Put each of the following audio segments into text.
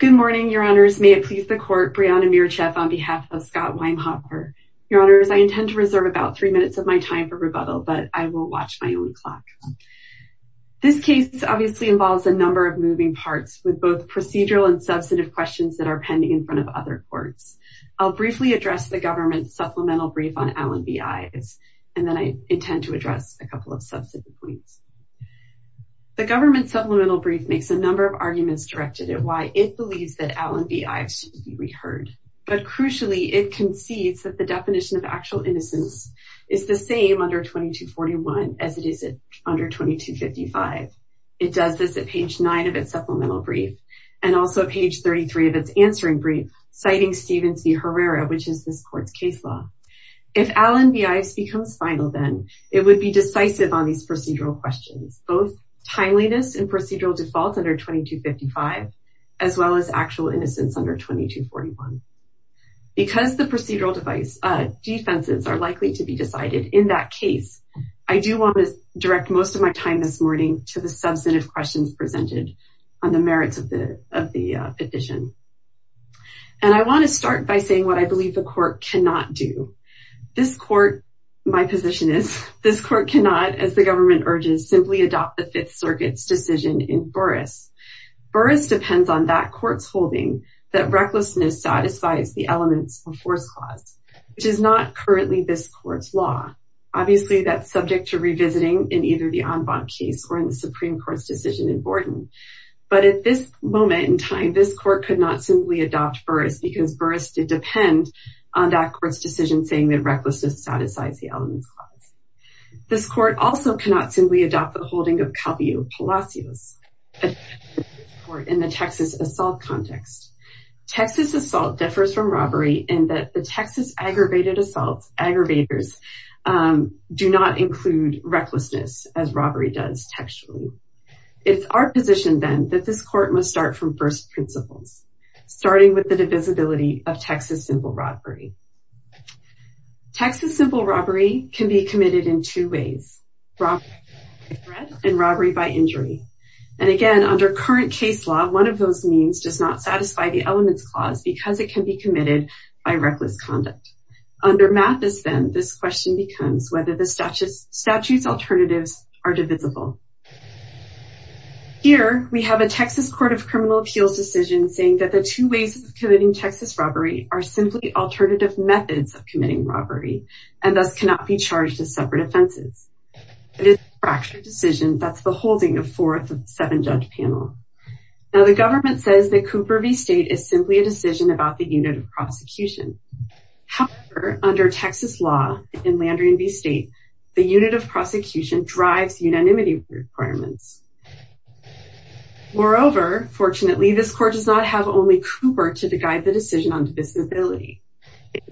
Good morning, your honors. May it please the court, Brianna Mircheff on behalf of Scott Wehmhoefer. Your honors, I intend to reserve about three minutes of my time for rebuttal, but I will watch my own clock. This case obviously involves a number of moving parts with both procedural and substantive questions that are pending in front of other courts. I'll briefly address the government supplemental brief on LNBIs, and then I intend to address a couple of subsequent points. The government supplemental brief makes a number of arguments directed at why it believes that LNBIs should be reheard. But crucially, it concedes that the definition of actual innocence is the same under 2241 as it is under 2255. It does this at page 9 of its supplemental brief, and also page 33 of its answering brief, citing Steven C. Herrera, which is this court's case law. If LNBIs becomes final then, it would be decisive on these procedural questions, both timeliness and procedural default under 2255, as well as actual innocence under 2241. Because the procedural defenses are likely to be decided in that case, I do want to direct most of my time this morning to the substantive questions presented on the merits of the petition. And I want to start by saying what I believe the court cannot do. This court, my position is, this court cannot, as the government urges, simply adopt the Fifth Circuit's decision in Burris. Burris depends on that court's holding that recklessness satisfies the elements of force clause, which is not currently this court's law. Obviously, that's subject to revisiting in either the en banc case or in the Supreme Court's decision in Borden. But at this moment in time, this court could not simply adopt Burris because Burris did depend on that court's decision saying that recklessness satisfies the elements clause. This court also cannot simply adopt the holding of Calvillo-Palacios in the Texas assault context. Texas assault differs from robbery in that the Texas aggravated assaults, aggravators, do not include recklessness as robbery does textually. It's our position, then, that this court must start from first principles, starting with the divisibility of Texas simple robbery. Texas simple robbery can be committed in two ways, robbery by threat and robbery by injury. And again, under current case law, one of those means does not satisfy the elements clause because it can be committed by reckless conduct. Under Mathis, then, this question becomes whether the Here, we have a Texas Court of Criminal Appeals decision saying that the two ways of committing Texas robbery are simply alternative methods of committing robbery and thus cannot be charged as separate offenses. It is a fractured decision that's the holding of fourth of the seven-judge panel. Now, the government says that Cooper v. State is simply a decision about the unit of prosecution. However, under Texas law in Landry v. State, the unit of prosecution drives unanimity requirements. Moreover, fortunately, this court does not have only Cooper to guide the decision on divisibility.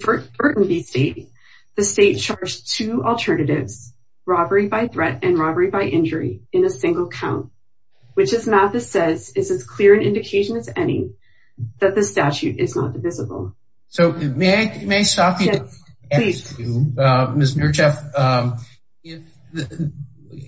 For Burton v. State, the state charged two alternatives, robbery by threat and robbery by injury, in a single count, which, as Mathis says, is as clear an indication as any that the statute is not divisible. So, may I stop you? Yes, please. Ms. Nurcheff,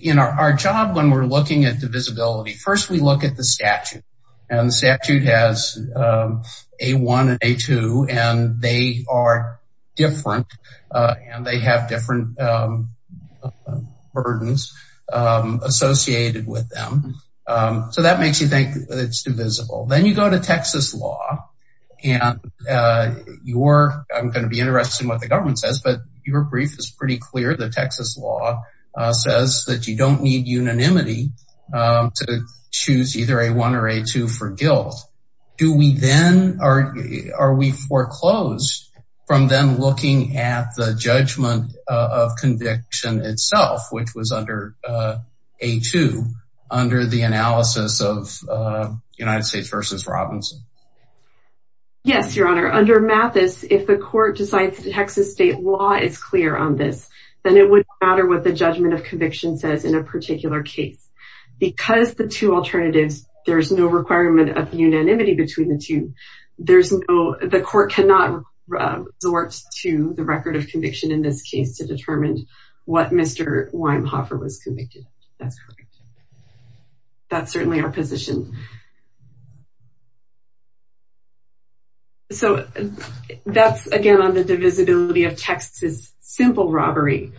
in our job, when we're looking at divisibility, first, we look at the statute, and the statute has A1 and A2, and they are different, and they have different burdens associated with them. So, that makes you think it's divisible. Then, you go to Texas law, and you're, I'm going to be the government says, but your brief is pretty clear that Texas law says that you don't need unanimity to choose either A1 or A2 for guilt. Do we then, are we foreclosed from then looking at the judgment of conviction itself, which was under A2, under the analysis of United States Robinson? Yes, your honor. Under Mathis, if the court decides that Texas state law is clear on this, then it would matter what the judgment of conviction says in a particular case. Because the two alternatives, there's no requirement of unanimity between the two. There's no, the court cannot resort to the record of conviction in this case to determine what Mr. Weimhoffer was convicted. That's correct. That's certainly our position. So, that's, again, on the divisibility of Texas simple robbery.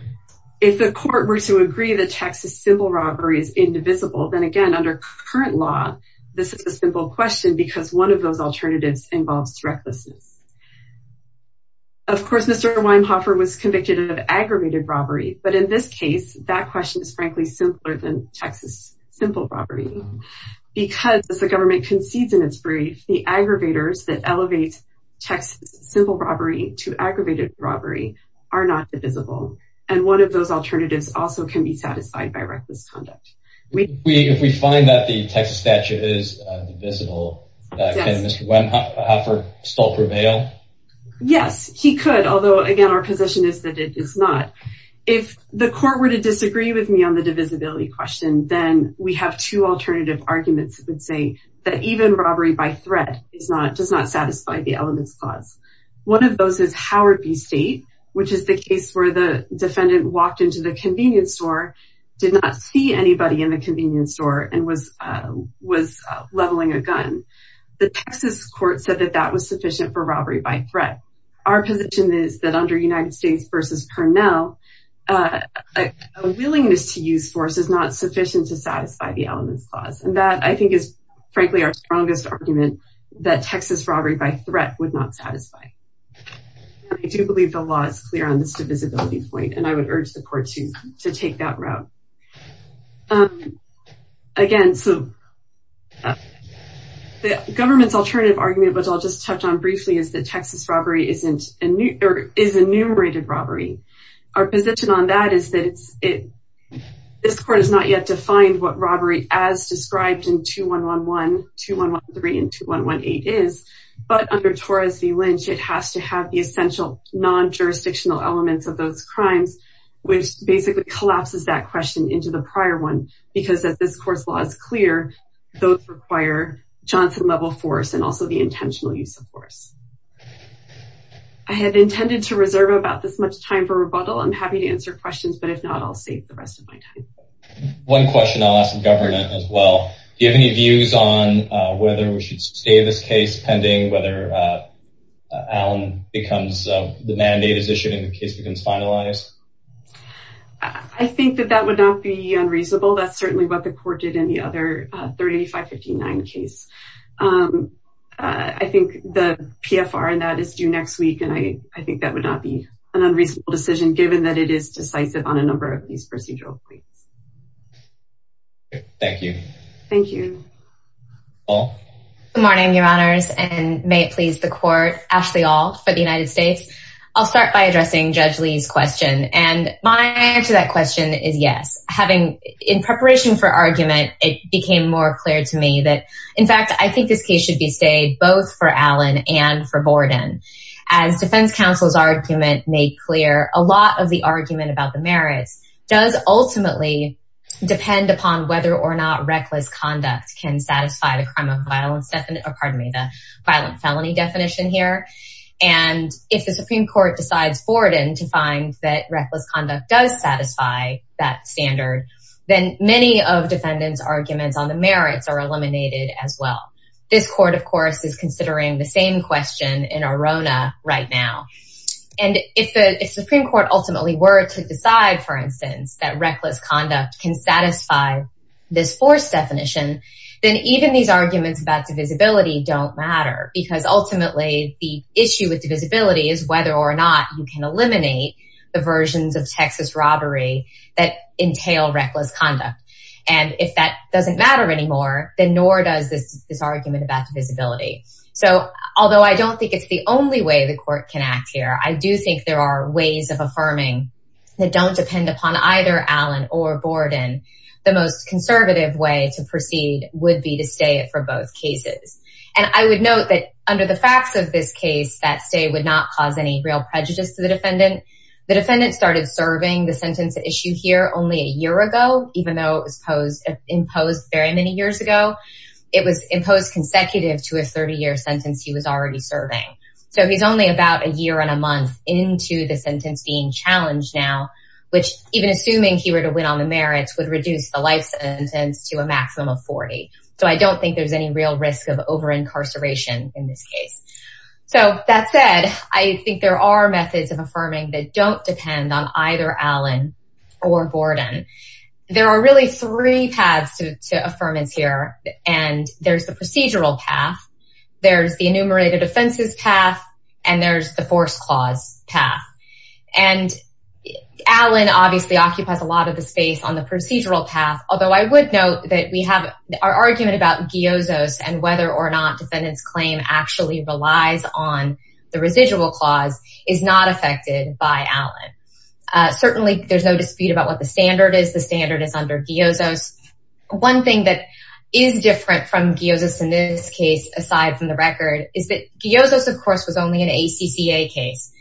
If the court were to agree that Texas simple robbery is indivisible, then again, under current law, this is a simple question, because one of those alternatives involves recklessness. Of course, Mr. Weimhoffer was convicted of aggravated robbery, but in this case, that question is frankly simpler than the aggravators that elevate Texas simple robbery to aggravated robbery are not divisible. And one of those alternatives also can be satisfied by reckless conduct. If we find that the Texas statute is divisible, can Mr. Weimhoffer still prevail? Yes, he could. Although, again, our position is that it is not. If the court were to disagree with me on the divisibility question, then we have two alternative arguments that would say that even robbery by threat does not satisfy the elements clause. One of those is Howard v. State, which is the case where the defendant walked into the convenience store, did not see anybody in the convenience store, and was leveling a gun. The Texas court said that that was sufficient for robbery by threat. Our position is that under United States v. Parnell, a willingness to use force is not sufficient to satisfy the elements clause. And that, I think, is, frankly, our strongest argument that Texas robbery by threat would not satisfy. I do believe the law is clear on this divisibility point, and I would urge the court to take that route. Again, the government's alternative argument, which I'll just touch on briefly, is that Texas robbery is enumerated robbery. Our position on that is that this court has not yet defined what robbery as described in 2111, 2113, and 2118 is. But under Torres v. Lynch, it has to have the essential non-jurisdictional elements of those crimes, which basically collapses that question into the prior one. Because as this court's law is clear, those require Johnson-level force and also the intentional use of force. I have intended to reserve about this much time for rebuttal. I'm happy to answer questions, but if not, I'll save the rest of my time. One question I'll ask the government as well. Do you have any views on whether we should stay this case pending, whether the mandate is issued and the case becomes finalized? I think that that would not be unreasonable. That's certainly what the court did in the other case. I think the PFR in that is due next week, and I think that would not be an unreasonable decision given that it is decisive on a number of these procedural points. Thank you. Thank you. Good morning, your honors, and may it please the court, Ashley Ault for the United States. I'll start by addressing Judge Lee's question. My answer to that question is yes. In preparation for argument, it became more clear to me that, in fact, I think this case should be stayed both for Allen and for Borden. As defense counsel's argument made clear, a lot of the argument about the merits does ultimately depend upon whether or not reckless conduct can satisfy the crime of violence, pardon me, the violent felony definition here. If the Supreme Court decides to find that reckless conduct does satisfy that standard, then many of defendants' arguments on the merits are eliminated as well. This court, of course, is considering the same question in Arona right now. If the Supreme Court ultimately were to decide, for instance, that reckless conduct can satisfy this force definition, then even these arguments about divisibility don't matter because ultimately the issue with divisibility is whether or not you can eliminate the versions of Texas robbery that entail reckless conduct. And if that doesn't matter anymore, then nor does this argument about divisibility. So although I don't think it's the only way the court can act here, I do think there are ways of affirming that don't depend upon either Allen or Borden. The most conservative way to proceed would be to stay it for both cases. And I would note that under the facts of this case, that stay would not cause any real prejudice to the defendant. The defendant started serving the sentence at issue here only a year ago, even though it was imposed very many years ago. It was imposed consecutive to a 30-year sentence he was already serving. So he's only about a year and a month into the sentence being challenged now, which even assuming he were to win on the merits would reduce the life sentence to a maximum of 40. So I don't think there's any real risk of over incarceration in this case. So that said, I think there are methods of affirming that don't depend on either Allen or Borden. There are really three paths to affirmance here. And there's the procedural path, there's the enumerated offenses path, and there's the force clause path. And Allen obviously occupies a lot of the space on the procedural path. So the argument about GIOZOS and whether or not defendant's claim actually relies on the residual clause is not affected by Allen. Certainly there's no dispute about what the standard is. The standard is under GIOZOS. One thing that is different from GIOZOS in this case, aside from the record, is that GIOZOS of course was only an ACCA case.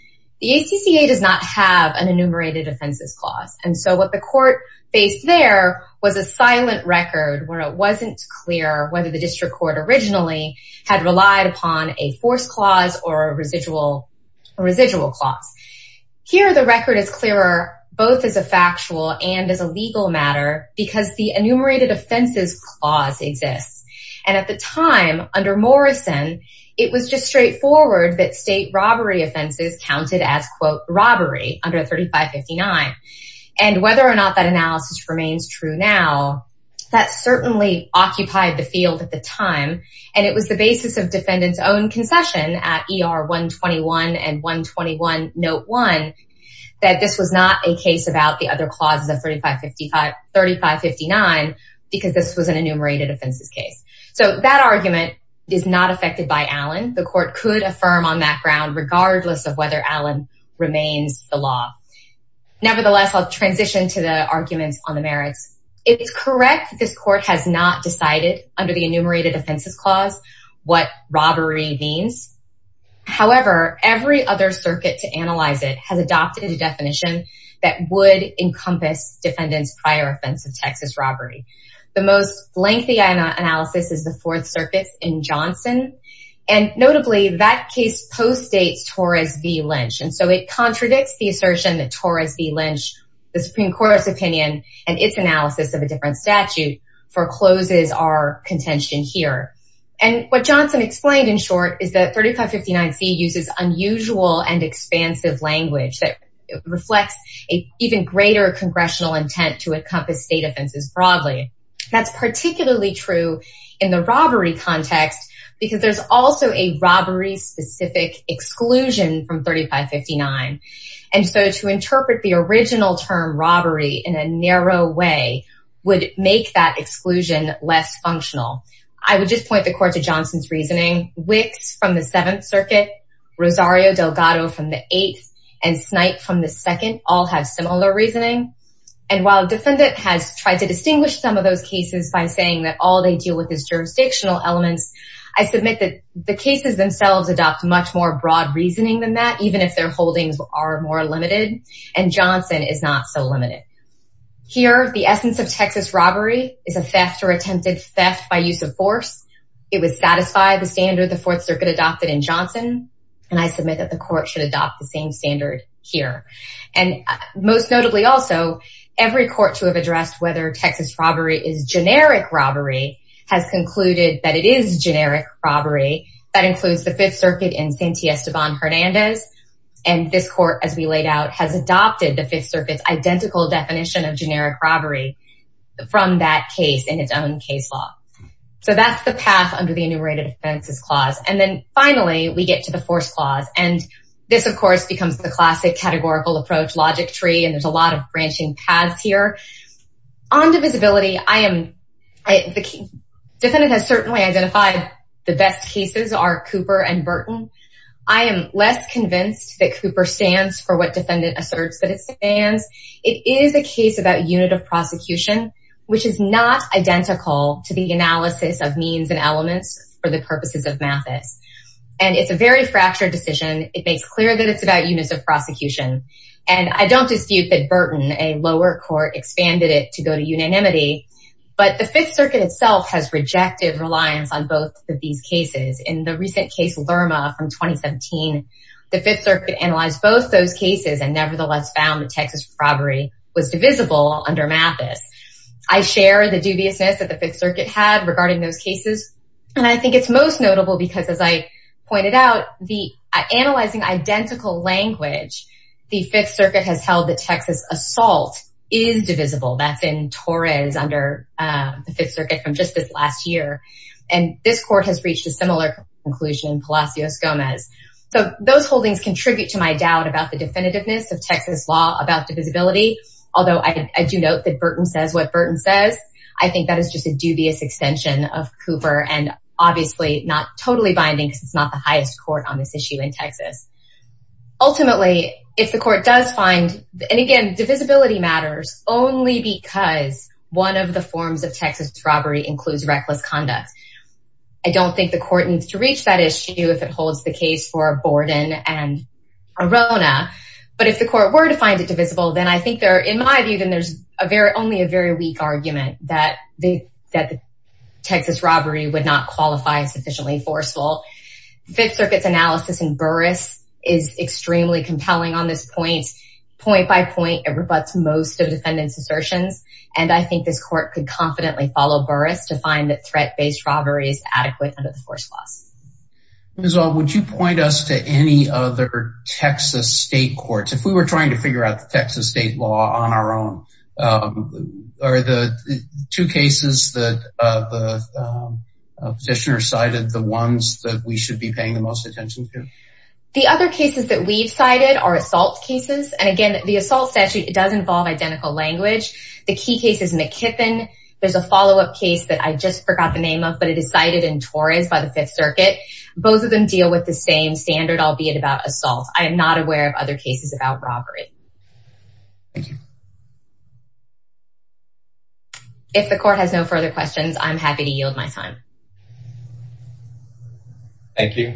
The ACCA does not have an enumerated offenses clause. And so what the court faced there was a silent record where it wasn't clear whether the district court originally had relied upon a force clause or a residual residual clause. Here the record is clearer both as a factual and as a legal matter because the enumerated offenses clause exists. And at the time under Morrison, it was just straightforward that state robbery offenses counted as quote robbery under 3559. And whether or not that analysis remains true now, that certainly occupied the field at the time. And it was the basis of defendant's own concession at ER 121 and 121 note 1 that this was not a case about the other clauses of 3559 because this was an enumerated offenses case. So that argument is not affected by Allen. The court could affirm on that ground regardless of whether Allen remains the law. Nevertheless, I'll transition to the arguments on the merits. It's correct that this court has not decided under the enumerated offenses clause what robbery means. However, every other circuit to analyze it has adopted a definition that would encompass defendant's prior offense of Texas robbery. The most lengthy analysis is the fourth circuits in Johnson. And notably that case postdates Torres v. Lynch. And so it contradicts the assertion that Torres v. Lynch, the Supreme Court's opinion, and its analysis of a different statute forecloses our contention here. And what Johnson explained in short is that 3559c uses unusual and expansive language that reflects an even greater congressional intent to encompass state offenses broadly. That's particularly true in the robbery context because there's also a robbery specific exclusion from 3559. And so to interpret the original term robbery in a narrow way would make that exclusion less functional. I would just point the court to Johnson's reasoning. Wicks from the seventh circuit, Rosario Delgado from the eighth, and Snipe from the second all have similar reasoning. And while defendant has tried to distinguish some of those cases by saying that all they deal with is jurisdictional elements, I submit that the cases themselves adopt much more broad reasoning than that, even if their holdings are more limited. And Johnson is not so limited. Here, the essence of Texas robbery is a theft or attempted theft by use of force. It would satisfy the standard the fourth circuit adopted in Johnson. And I submit that the court should adopt the same standard here. And most notably, also, every court to have addressed whether Texas robbery is generic robbery has concluded that it is generic robbery. That includes the fifth circuit in Sante Esteban Hernandez. And this court, as we laid out, has adopted the fifth circuit's identical definition of generic robbery from that case in its own case law. So that's the path under the enumerated offenses clause. And then finally, we get to the force clause. And this, of course, becomes the classic categorical approach logic tree. And there's a lot of branching paths here. On divisibility, I am the defendant has certainly identified the best cases are Cooper and Burton. I am less convinced that Cooper stands for what defendant asserts that it stands. It is a case about unit of prosecution, which is not identical to the analysis of means and elements for the purposes of Mathis. And it's a very fractured decision. It makes clear that it's about units of prosecution. And I don't it to go to unanimity. But the Fifth Circuit itself has rejected reliance on both of these cases. In the recent case Lerma from 2017, the Fifth Circuit analyzed both those cases and nevertheless found that Texas robbery was divisible under Mathis. I share the dubiousness that the Fifth Circuit had regarding those cases. And I think it's most notable because as I pointed out, the analyzing identical language, the Fifth Circuit has held that Texas assault is divisible. That's in Torres under the Fifth Circuit from just this last year. And this court has reached a similar conclusion, Palacios Gomez. So those holdings contribute to my doubt about the definitiveness of Texas law about divisibility. Although I do note that Burton says what Burton says. I think that is just a dubious extension of Cooper and obviously not totally binding because not the highest court on this issue in Texas. Ultimately, if the court does find and again, divisibility matters only because one of the forms of Texas robbery includes reckless conduct. I don't think the court needs to reach that issue if it holds the case for Borden and Arona. But if the court were to find it divisible, then I think they're in my view, then there's a very only a very weak argument that the that the Texas robbery would not qualify sufficiently forceful. Fifth Circuit's analysis in Burris is extremely compelling on this point. Point by point, it rebuts most of defendants assertions. And I think this court could confidently follow Burris to find that threat based robbery is adequate under the force laws. Would you point us to any other Texas state courts if we were trying to figure out the Texas state law on our own? Are the two cases that the petitioner cited the ones that we should be paying the most attention to? The other cases that we've cited are assault cases. And again, the assault statute does involve identical language. The key case is McKiffin. There's a follow up case that I just forgot the name of but it is cited in Torres by the Fifth Circuit. Both of them deal with the same standard, albeit about assault. I am not aware of other cases about assault cases that deal with the same standard of robbery. Thank you. If the court has no further questions, I'm happy to yield my time. Thank you,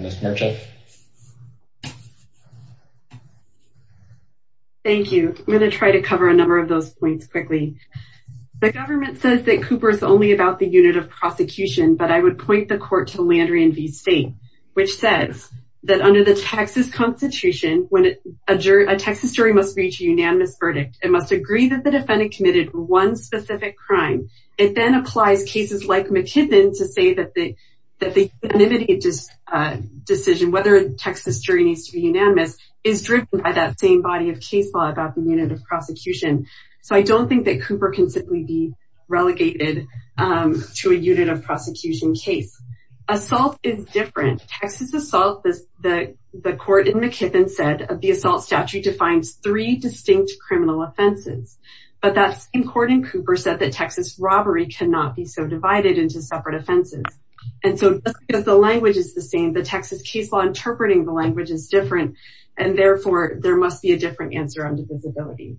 Miss Merchant. Thank you. I'm going to try to cover a number of those points quickly. The government says that a Texas jury must reach a unanimous verdict. It must agree that the defendant committed one specific crime. It then applies cases like McKiffin to say that the decision whether a Texas jury needs to be unanimous is driven by that same body of case law about the unit of prosecution. So I don't think that Cooper can simply be relegated to a unit of prosecution case. Assault is different. Texas assault is the court in McKiffin said of the assault statute defines three distinct criminal offenses. But that same court in Cooper said that Texas robbery cannot be so divided into separate offenses. And so because the language is the same, the Texas case law interpreting the language is different. And therefore, there must be a different answer on defensibility.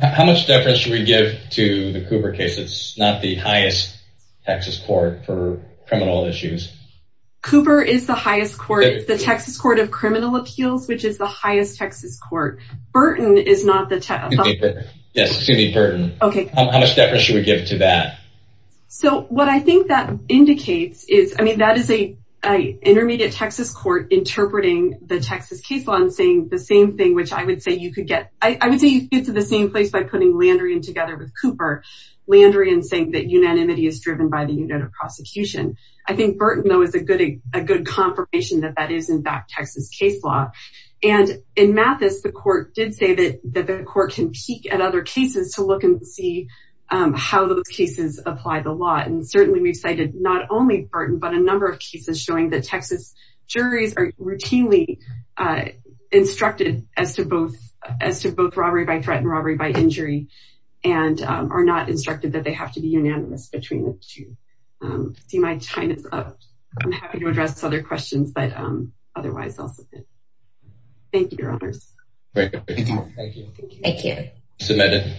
How much difference do we give to the Cooper case? It's not the highest Texas court for criminal appeals, which is the highest Texas court. Burton is not the Yes, excuse me, Burton. Okay, how much difference should we give to that? So what I think that indicates is I mean, that is a intermediate Texas court interpreting the Texas case law and saying the same thing, which I would say you could get I would say you get to the same place by putting Landry and together with Cooper Landry and saying that unanimity is driven by the unit of prosecution. I think Burton though is a good a good confirmation that that is in fact, Texas case law. And in Mathis, the court did say that that the court can peek at other cases to look and see how those cases apply the law. And certainly we've cited not only Burton, but a number of cases showing that Texas juries are routinely instructed as to both as to both robbery by threat and robbery by injury, and are not instructed that they have to be unanimous between the two. See, my time is up. I'm happy to address other questions, but otherwise, thank you, your honors. Thank you. Thank you.